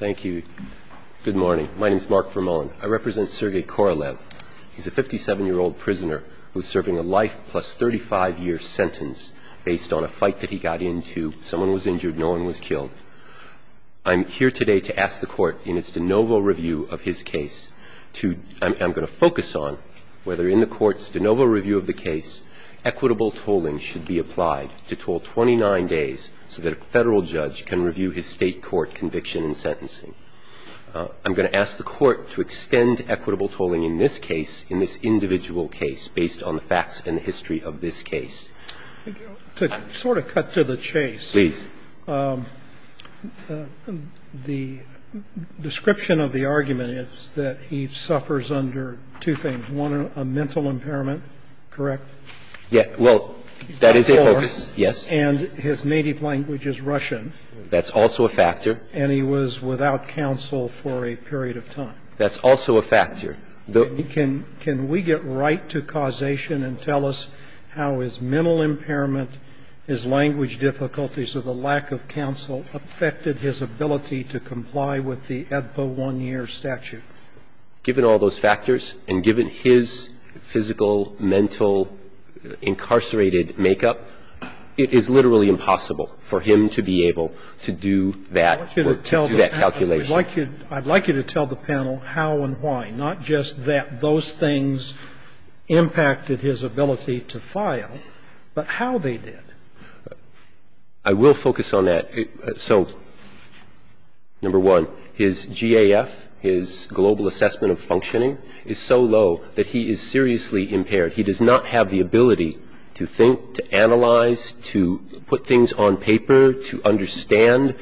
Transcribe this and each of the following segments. Thank you. Good morning. My name is Mark Vermoen. I represent Sergei Korolev. He's a 57-year-old prisoner who's serving a life plus 35-year sentence based on a fight that he got into. Someone was injured. No one was killed. I'm here today to ask the court in its de novo review of his case to, I'm going to focus on whether in the court's de novo review of the case, equitable tolling should be applied to toll 29 days so that a federal judge can I'm going to ask the court to extend equitable tolling in this case, in this individual case, based on the facts and the history of this case. To sort of cut to the chase, the description of the argument is that he suffers under two things. One, a mental impairment, correct? Well, that is a focus, yes. And his native language is Russian. That's also a factor. And he was without counsel for a period of time. That's also a factor. Can we get right to causation and tell us how his mental impairment, his language difficulties or the lack of counsel affected his ability to comply with the ETHPA one-year statute? Given all those factors and given his physical, mental, incarcerated makeup, it is literally impossible for him to be able to do that or to do that calculation. I'd like you to tell the panel how and why, not just that those things impacted his ability to file, but how they did. I will focus on that. So, number one, his GAF, his global assessment of functioning, is so low that he is seriously impaired. He does not have the ability to think, to analyze, to put things into perspective or to put things on paper to understand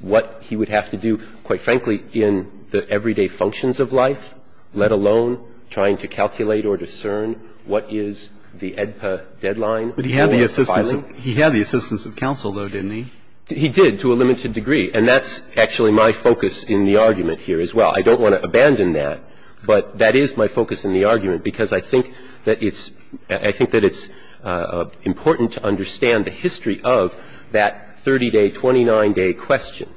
what he would have to do, quite frankly, in the everyday functions of life, let alone trying to calculate or discern what is the ETHPA deadline or the filing. But he had the assistance of counsel, though, didn't he? He did, to a limited degree. And that's actually my focus in the argument here as well. I don't want to abandon that, but that is my focus in the argument because I think that it's important to understand the history of that 30-day, 29-day question.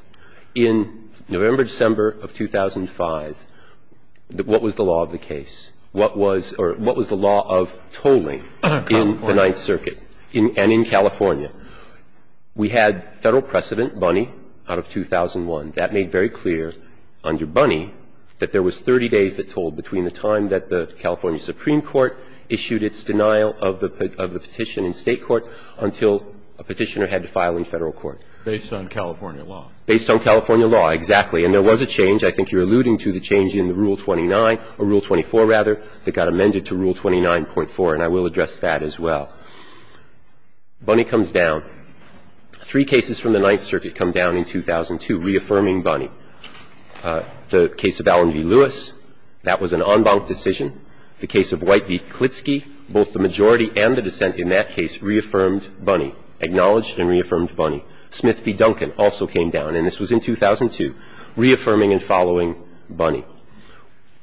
In November, December of 2005, what was the law of the case? What was the law of tolling in the Ninth Circuit and in California? We had federal precedent, Bunny, out of 2001. That made very clear under Bunny that there was 30 days that tolled between the time that the California Supreme Court issued its denial of the petition in state court until a petitioner had to file in federal court. Based on California law. Based on California law, exactly. And there was a change. I think you're alluding to the change in the Rule 29 or Rule 24, rather, that got amended to Rule 29.4, and I will address that as well. Bunny comes down. Three cases from the Ninth Circuit come down in 2002 reaffirming Bunny. The case of Allen v. Lewis, that was an en banc decision. The case of White v. Klitschke, both the majority and the dissent in that case reaffirmed Bunny, acknowledged and reaffirmed Bunny. Smith v. Duncan also came down, and this was in 2002, reaffirming and following Bunny.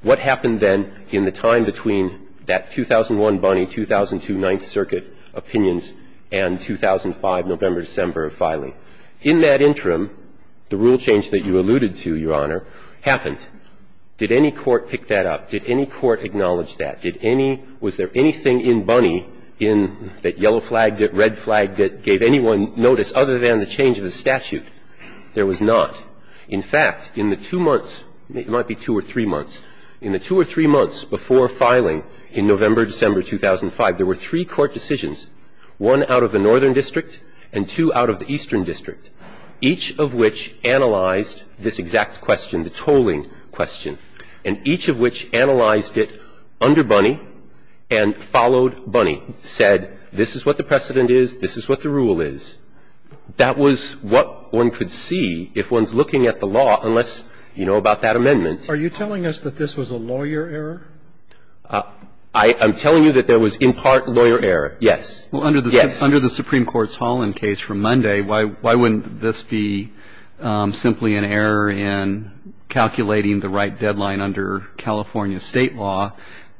What happened then in the time between that 2001 Bunny, 2002 Ninth Circuit opinions and 2005, November, December filing? In that interim, the rule change that you alluded to, Your Honor, happened. Did any court pick that up? Did any court acknowledge that? Did any – was there anything in Bunny in that yellow flag, that red flag that gave anyone notice other than the change of the statute? There was not. In fact, in the two months – it might be two or three months – in the two or three months before filing in November, December 2005, there were three court decisions, one out of the northern district and two out of the eastern district, each of which analyzed this exact question, the tolling question, and each of which analyzed it under Bunny and followed Bunny, said this is what the precedent is, this is what the rule is. That was what one could see if one's looking at the law, unless you know about that amendment. Are you telling us that this was a lawyer error? I'm telling you that there was in part lawyer error, yes. Well, under the Supreme Court's Holland case from Monday, why wouldn't this be simply an error in calculating the right deadline under California State law,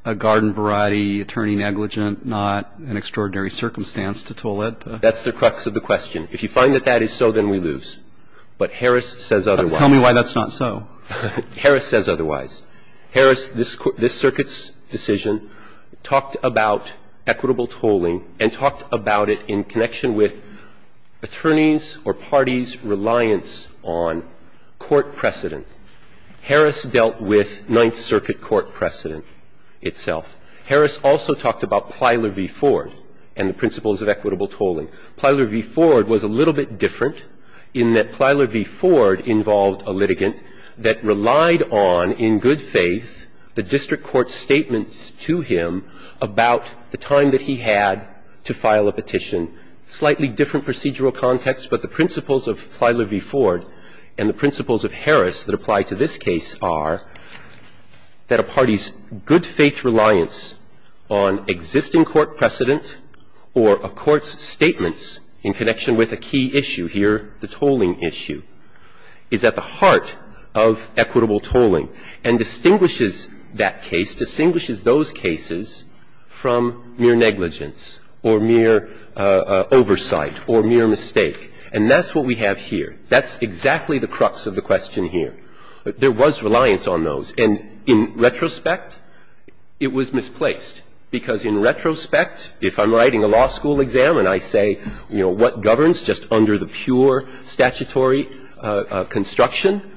a garden variety, attorney negligent, not an extraordinary circumstance to toll it? That's the crux of the question. If you find that that is so, then we lose. But Harris says otherwise. Tell me why that's not so. Harris says otherwise. Harris said otherwise. Harris, this circuit's decision, talked about equitable tolling and talked about it in connection with attorneys or parties' reliance on court precedent. Harris dealt with Ninth Circuit court precedent itself. Harris also talked about Plyler v. Ford and the principles of equitable tolling. Plyler v. Ford was a little bit different in that Plyler v. Ford involved a litigant that relied on, in good faith, the district court's statements to him about the time that he had to file a petition, slightly different procedural context. But the principles of Plyler v. Ford and the principles of Harris that apply to this case are that a party's good faith reliance on existing court precedent or a court's good faith reliance on existing court precedent is a good faith reliance on the principle of equitable tolling and distinguishes that case, distinguishes those cases from mere negligence or mere oversight or mere mistake. And that's what we have here. That's exactly the crux of the question here. There was reliance on those. And in retrospect, it was misplaced. Because in retrospect, if I'm writing a law school exam and I say, you know, what governs just under the pure statutory construction,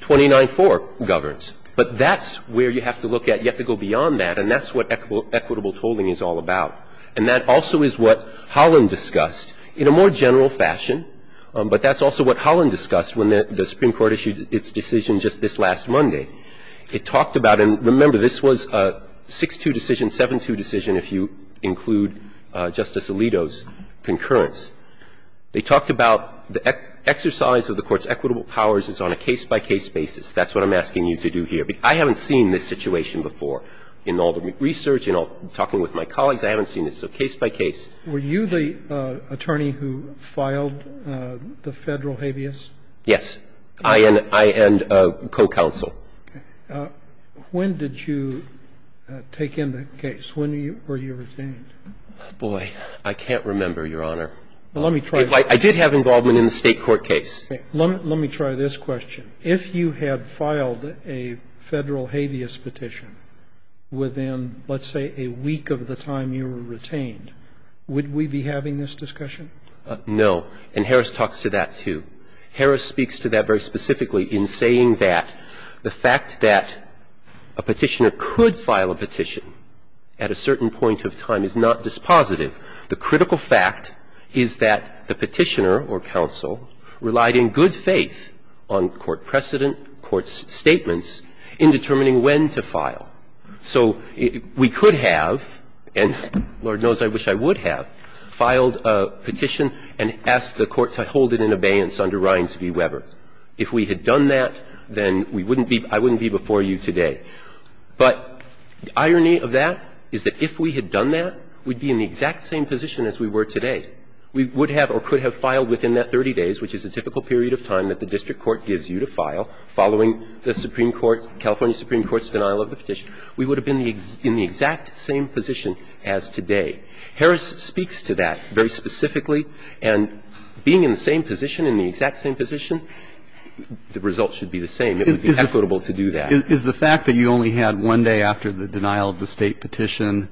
29-4 governs. But that's where you have to look at. You have to go beyond that. And that's what equitable tolling is all about. And that also is what Holland discussed in a more general fashion. But that's also what Holland discussed when the Supreme Court issued its decision just this last Monday. It talked about, and remember, this was a 6-2 decision, 7-2 decision if you include Justice Alito's concurrence. They talked about the exercise of the Court's equitable powers is on a case-by-case basis. That's what I'm asking you to do here. I haven't seen this situation before. In all the research, in all talking with my colleagues, I haven't seen this. So case-by-case. Were you the attorney who filed the Federal habeas? Yes. I and co-counsel. Okay. When did you take in the case? When were you retained? Boy, I can't remember, Your Honor. Let me try this. I did have involvement in the State court case. Let me try this question. If you had filed a Federal habeas petition within, let's say, a week of the time you were retained, would we be having this discussion? No. And Harris talks to that, too. Harris speaks to that very specifically in saying that the fact that a Petitioner could file a petition at a certain point of time is not dispositive. The critical fact is that the Petitioner or counsel relied in good faith on court precedent, court's statements in determining when to file. So we could have, and Lord knows I wish I would have, filed a petition and asked the court to hold it in abeyance under Rines v. Weber. If we had done that, then we wouldn't be – I wouldn't be before you today. But the irony of that is that if we had done that, we'd be in the exact same position as we were today. We would have or could have filed within that 30 days, which is a typical period of time that the district court gives you to file following the Supreme Court, California Supreme Court's denial of the petition. We would have been in the exact same position as today. Harris speaks to that very specifically. And being in the same position, in the exact same position, the results should be the same. It would be equitable to do that. Is the fact that you only had one day after the denial of the State petition,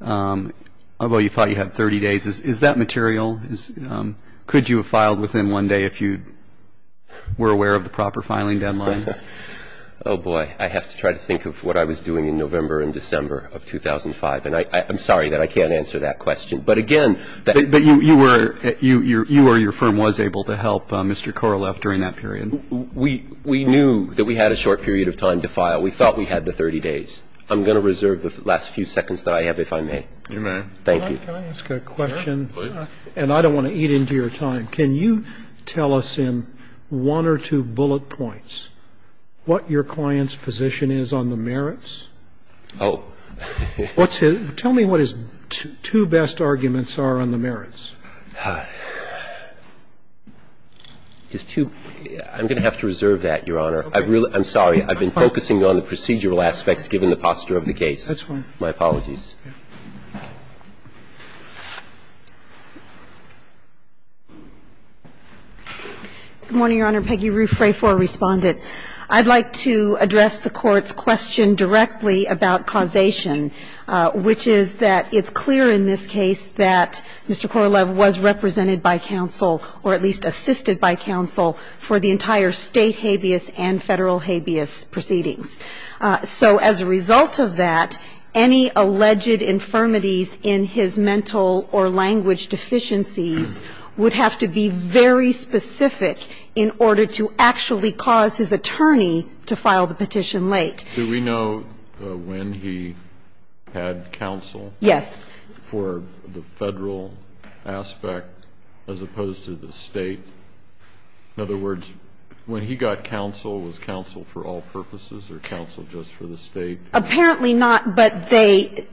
although you thought you had 30 days, is that material? Could you have filed within one day if you were aware of the proper filing deadline? Oh, boy. I have to try to think of what I was doing in November and December of 2005. And I'm sorry that I can't answer that question. But again – But you were – you or your firm was able to help Mr. Koroleff during that period? We knew that we had a short period of time to file. We thought we had the 30 days. I'm going to reserve the last few seconds that I have, if I may. You may. Thank you. Can I ask a question? And I don't want to eat into your time. Can you tell us in one or two bullet points what your client's position is on the merits? Oh. What's his – tell me what his two best arguments are on the merits. His two – I'm going to have to reserve that, Your Honor. I really – I'm sorry. I've been focusing on the procedural aspects, given the posture of the case. That's fine. My apologies. Good morning, Your Honor. Peggy Rufrafor, Respondent. I'd like to address the Court's question directly about causation, which is that it's clear in this case that Mr. Koroleff was represented by counsel or at least assisted by counsel for the entire state habeas and federal habeas proceedings. So as a result of that, any alleged infirmities in his mental or language deficiencies would have to be very specific in order to actually cause his attorney to file the petition late. Do we know when he had counsel? Yes. For the federal aspect as opposed to the state? In other words, when he got counsel, was counsel for all purposes or counsel just for the state? Apparently not. But they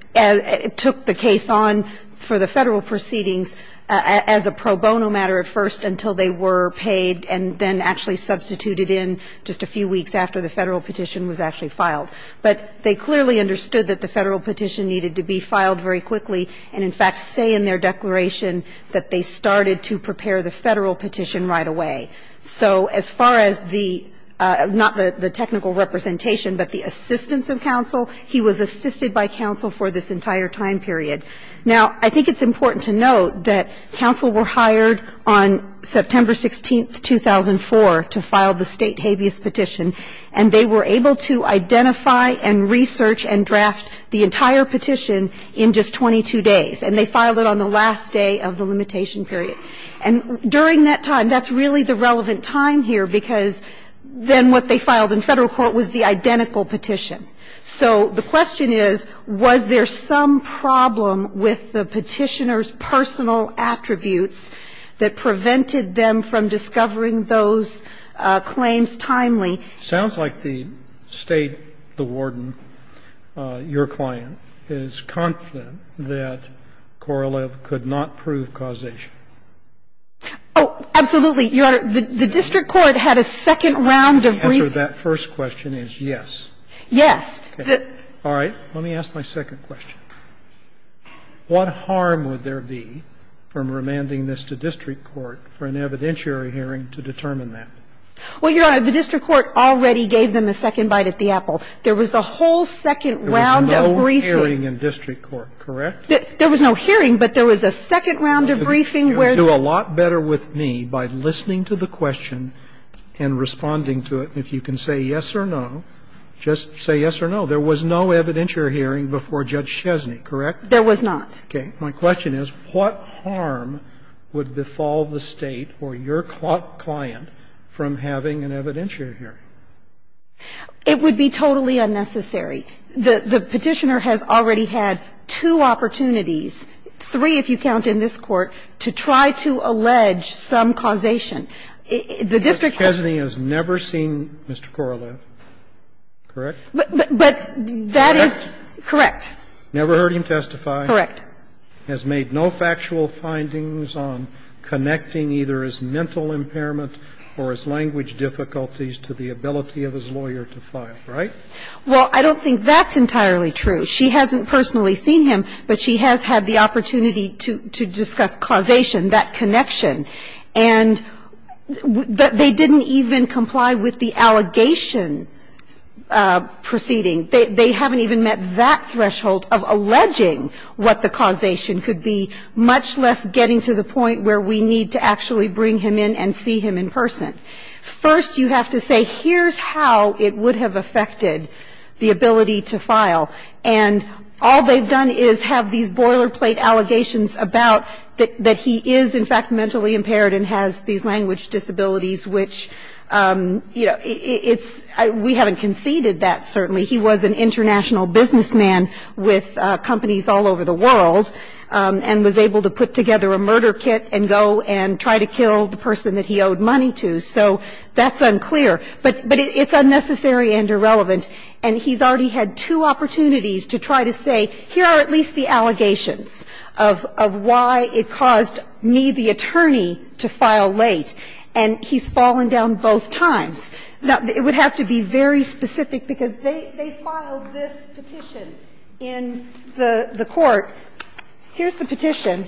took the case on for the federal proceedings as a pro bono matter at first until they were paid and then actually substituted in just a few weeks after the federal petition was actually filed. But they clearly understood that the federal petition needed to be filed very quickly and, in fact, say in their declaration that they started to prepare the federal petition right away. So as far as the not the technical representation, but the assistance of counsel, he was assisted by counsel for this entire time period. Now, I think it's important to note that counsel were hired on September 16, 2004, to file the state habeas petition, and they were able to identify and research and draft the entire petition in just 22 days, and they filed it on the last day of the limitation period. And during that time, that's really the relevant time here, because then what they filed in federal court was the identical petition. So the question is, was there some problem with the Petitioner's personal attributes that prevented them from discovering those claims timely? Dr. Veenstra, could you comment on that later in the Well, Your Honor, the district court had a second comprehensive approval. But from the beginning of that evidence hearing period, their final assessment was that that was provable. The district court already gave them the second bite at the apple. There was a whole second round of briefing. There was no hearing in district court, correct? There was no hearing, but there was a second round of briefing where the You'll do a lot better with me by listening to the question and responding to it. If you can say yes or no, just say yes or no. There was no evidentiary hearing before Judge Chesney, correct? There was not. Okay. My question is, what harm would befall the State or your client from having an evidentiary hearing? It would be totally unnecessary. The Petitioner has already had two opportunities, three if you count in this Court, to try to allege some causation. The district court Judge Chesney has never seen Mr. Coroleff, correct? But that is correct. Never heard him testify? Correct. Has made no factual findings on connecting either his mental impairment or his language difficulties to the ability of his lawyer to file, right? Well, I don't think that's entirely true. She hasn't personally seen him, but she has had the opportunity to discuss causation, that connection. And they didn't even comply with the allegation proceeding. They haven't even met that threshold of alleging what the causation could be, much less getting to the point where we need to actually bring him in and see him in person. First, you have to say, here's how it would have affected the ability to file. And all they've done is have these boilerplate allegations about that he is, in fact, mentally impaired and has these language disabilities, which, you know, it's we haven't conceded that, certainly. He was an international businessman with companies all over the world and was able to put together a murder kit and go and try to kill the person that he owed money to. So that's unclear. But it's unnecessary and irrelevant. And he's already had two opportunities to try to say, here are at least the allegations of why it caused me, the attorney, to file late, and he's fallen down both times. Now, it would have to be very specific, because they filed this petition in the court. Here's the petition,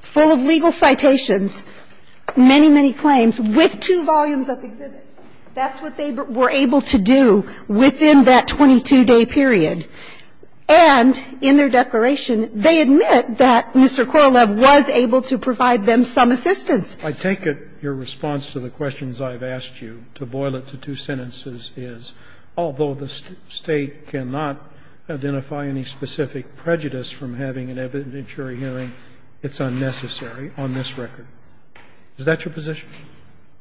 full of legal citations, many, many claims, with two volumes of exhibits. That's what they were able to do within that 22-day period. And in their declaration, they admit that Mr. Korolev was able to provide them some assistance. I take it your response to the questions I've asked you to boil it to two sentences is, although the State cannot identify any specific prejudice from having an evidentiary hearing, it's unnecessary on this record. Is that your position?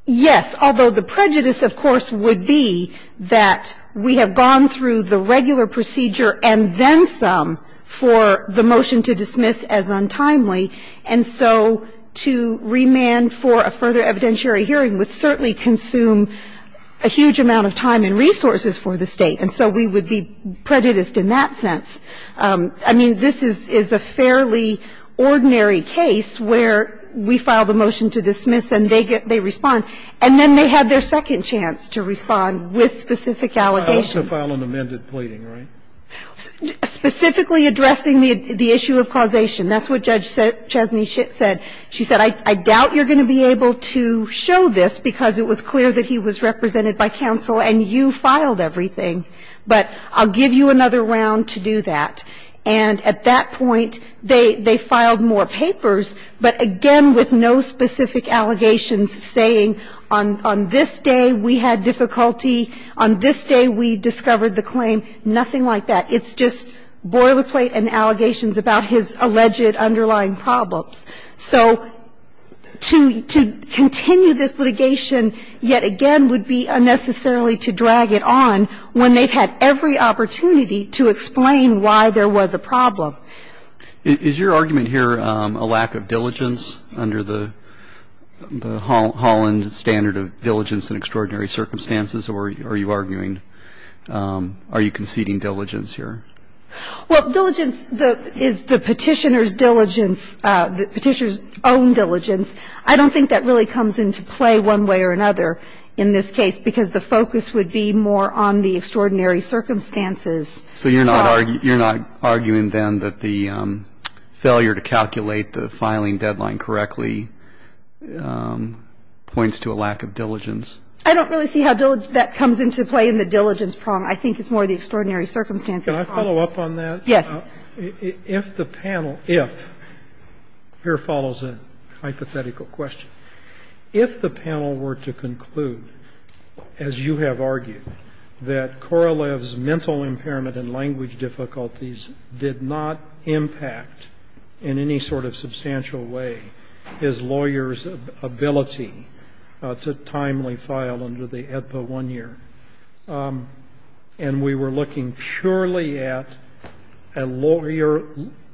Yes. Although the prejudice, of course, would be that we have gone through the regular procedure and then some for the motion to dismiss as untimely. And so to remand for a further evidentiary hearing would certainly consume a huge amount of time and resources for the State. And so we would be prejudiced in that sense. I mean, this is a fairly ordinary case where we file the motion to dismiss and they respond, and then they have their second chance to respond with specific allegations. To file an amended pleading, right? Specifically addressing the issue of causation. That's what Judge Chesney said. She said, I doubt you're going to be able to show this, because it was clear that he was represented by counsel and you filed everything. But I'll give you another round to do that. And at that point, they filed more papers, but again, with no specific allegations saying, on this day we had difficulty, on this day we discovered the claim, nothing like that. It's just boilerplate and allegations about his alleged underlying problems. So to continue this litigation, yet again, would be unnecessarily to drag it on when they've had every opportunity to explain why there was a problem. Is your argument here a lack of diligence under the Holland standard of diligence in extraordinary circumstances? Or are you arguing, are you conceding diligence here? Well, diligence is the Petitioner's diligence, the Petitioner's own diligence. I don't think that really comes into play one way or another in this case, because the focus would be more on the extraordinary circumstances. So you're not arguing then that the failure to calculate the filing deadline correctly points to a lack of diligence? I don't really see how that comes into play in the diligence problem. I think it's more the extraordinary circumstances. Can I follow up on that? Yes. If the panel, if, here follows a hypothetical question. If the panel were to conclude, as you have argued, that Korolev's mental impairment and language difficulties did not impact in any sort of substantial way his lawyer's ability to timely file under the AEDPA 1-year, and we were looking purely at the lawyer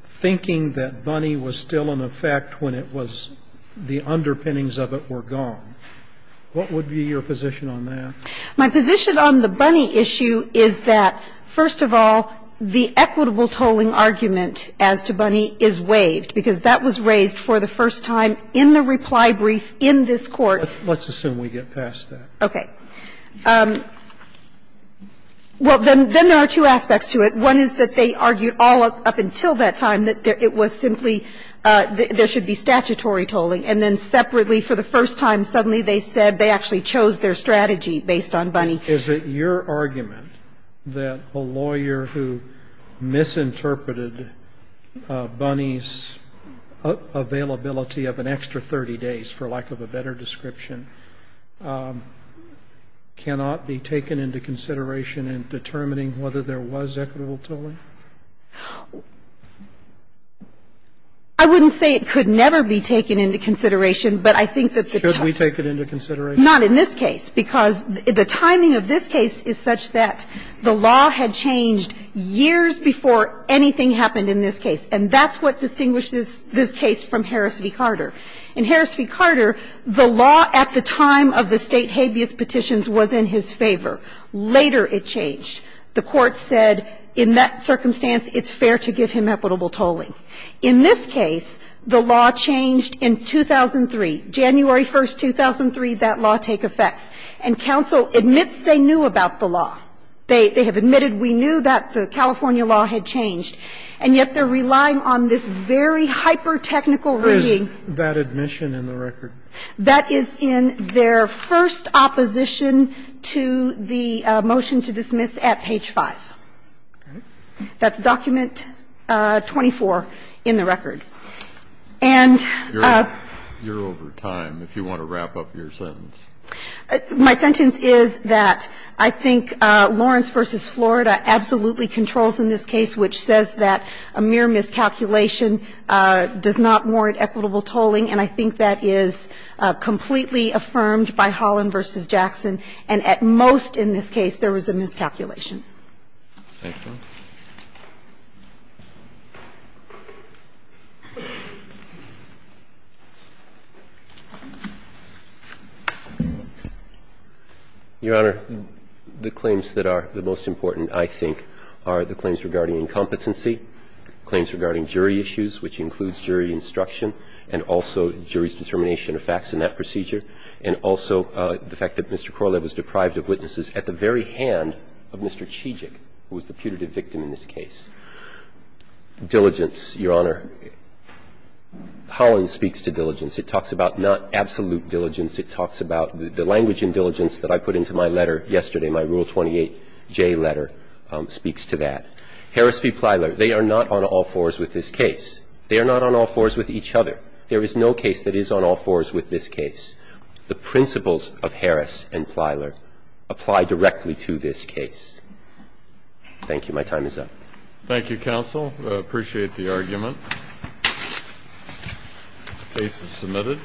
thinking that Bunny was still in effect when it was, the underpinnings of it were gone, what would be your position on that? My position on the Bunny issue is that, first of all, the equitable tolling argument as to Bunny is waived, because that was raised for the first time in the reply brief in this Court. Let's assume we get past that. Okay. Well, then there are two aspects to it. One is that they argued all up until that time that it was simply, there should be statutory tolling, and then separately for the first time, suddenly they said they actually chose their strategy based on Bunny. Is it your argument that a lawyer who misinterpreted Bunny's availability of an extra 30 days, for lack of a better description, cannot be taken into consideration in determining whether there was equitable tolling? I wouldn't say it could never be taken into consideration, but I think that the time Should we take it into consideration? Not in this case, because the timing of this case is such that the law had changed years before anything happened in this case, and that's what distinguishes this case from Harris v. Carter. In Harris v. Carter, the law at the time of the State habeas petitions was in his favor. Later it changed. The Court said in that circumstance it's fair to give him equitable tolling. In this case, the law changed in 2003. January 1, 2003, that law take effect. And counsel admits they knew about the law. They have admitted we knew that the California law had changed, and yet they're It's a hypertechnical reading. Is that admission in the record? That is in their first opposition to the motion to dismiss at page 5. That's document 24 in the record. And you're over time if you want to wrap up your sentence. My sentence is that I think Lawrence v. Florida absolutely controls in this case which says that a mere miscalculation does not warrant equitable tolling. And I think that is completely affirmed by Holland v. Jackson. And at most in this case, there was a miscalculation. Your Honor, the claims that are the most important, I think, are the claims regarding incompetency, claims regarding jury issues, which includes jury instruction and also jury's determination of facts in that procedure, and also the fact that Mr. Korolev was deprived of witnesses at the very hand of Mr. Chijik, who was the putative victim in this case. Diligence, Your Honor, Holland speaks to diligence. It talks about not absolute diligence. It talks about the language in diligence that I put into my letter yesterday, my Rule 28J letter, speaks to that. Harris v. Plyler, they are not on all fours with this case. They are not on all fours with each other. There is no case that is on all fours with this case. The principles of Harris and Plyler apply directly to this case. Thank you. My time is up. Thank you, counsel. I appreciate the argument. The case is submitted.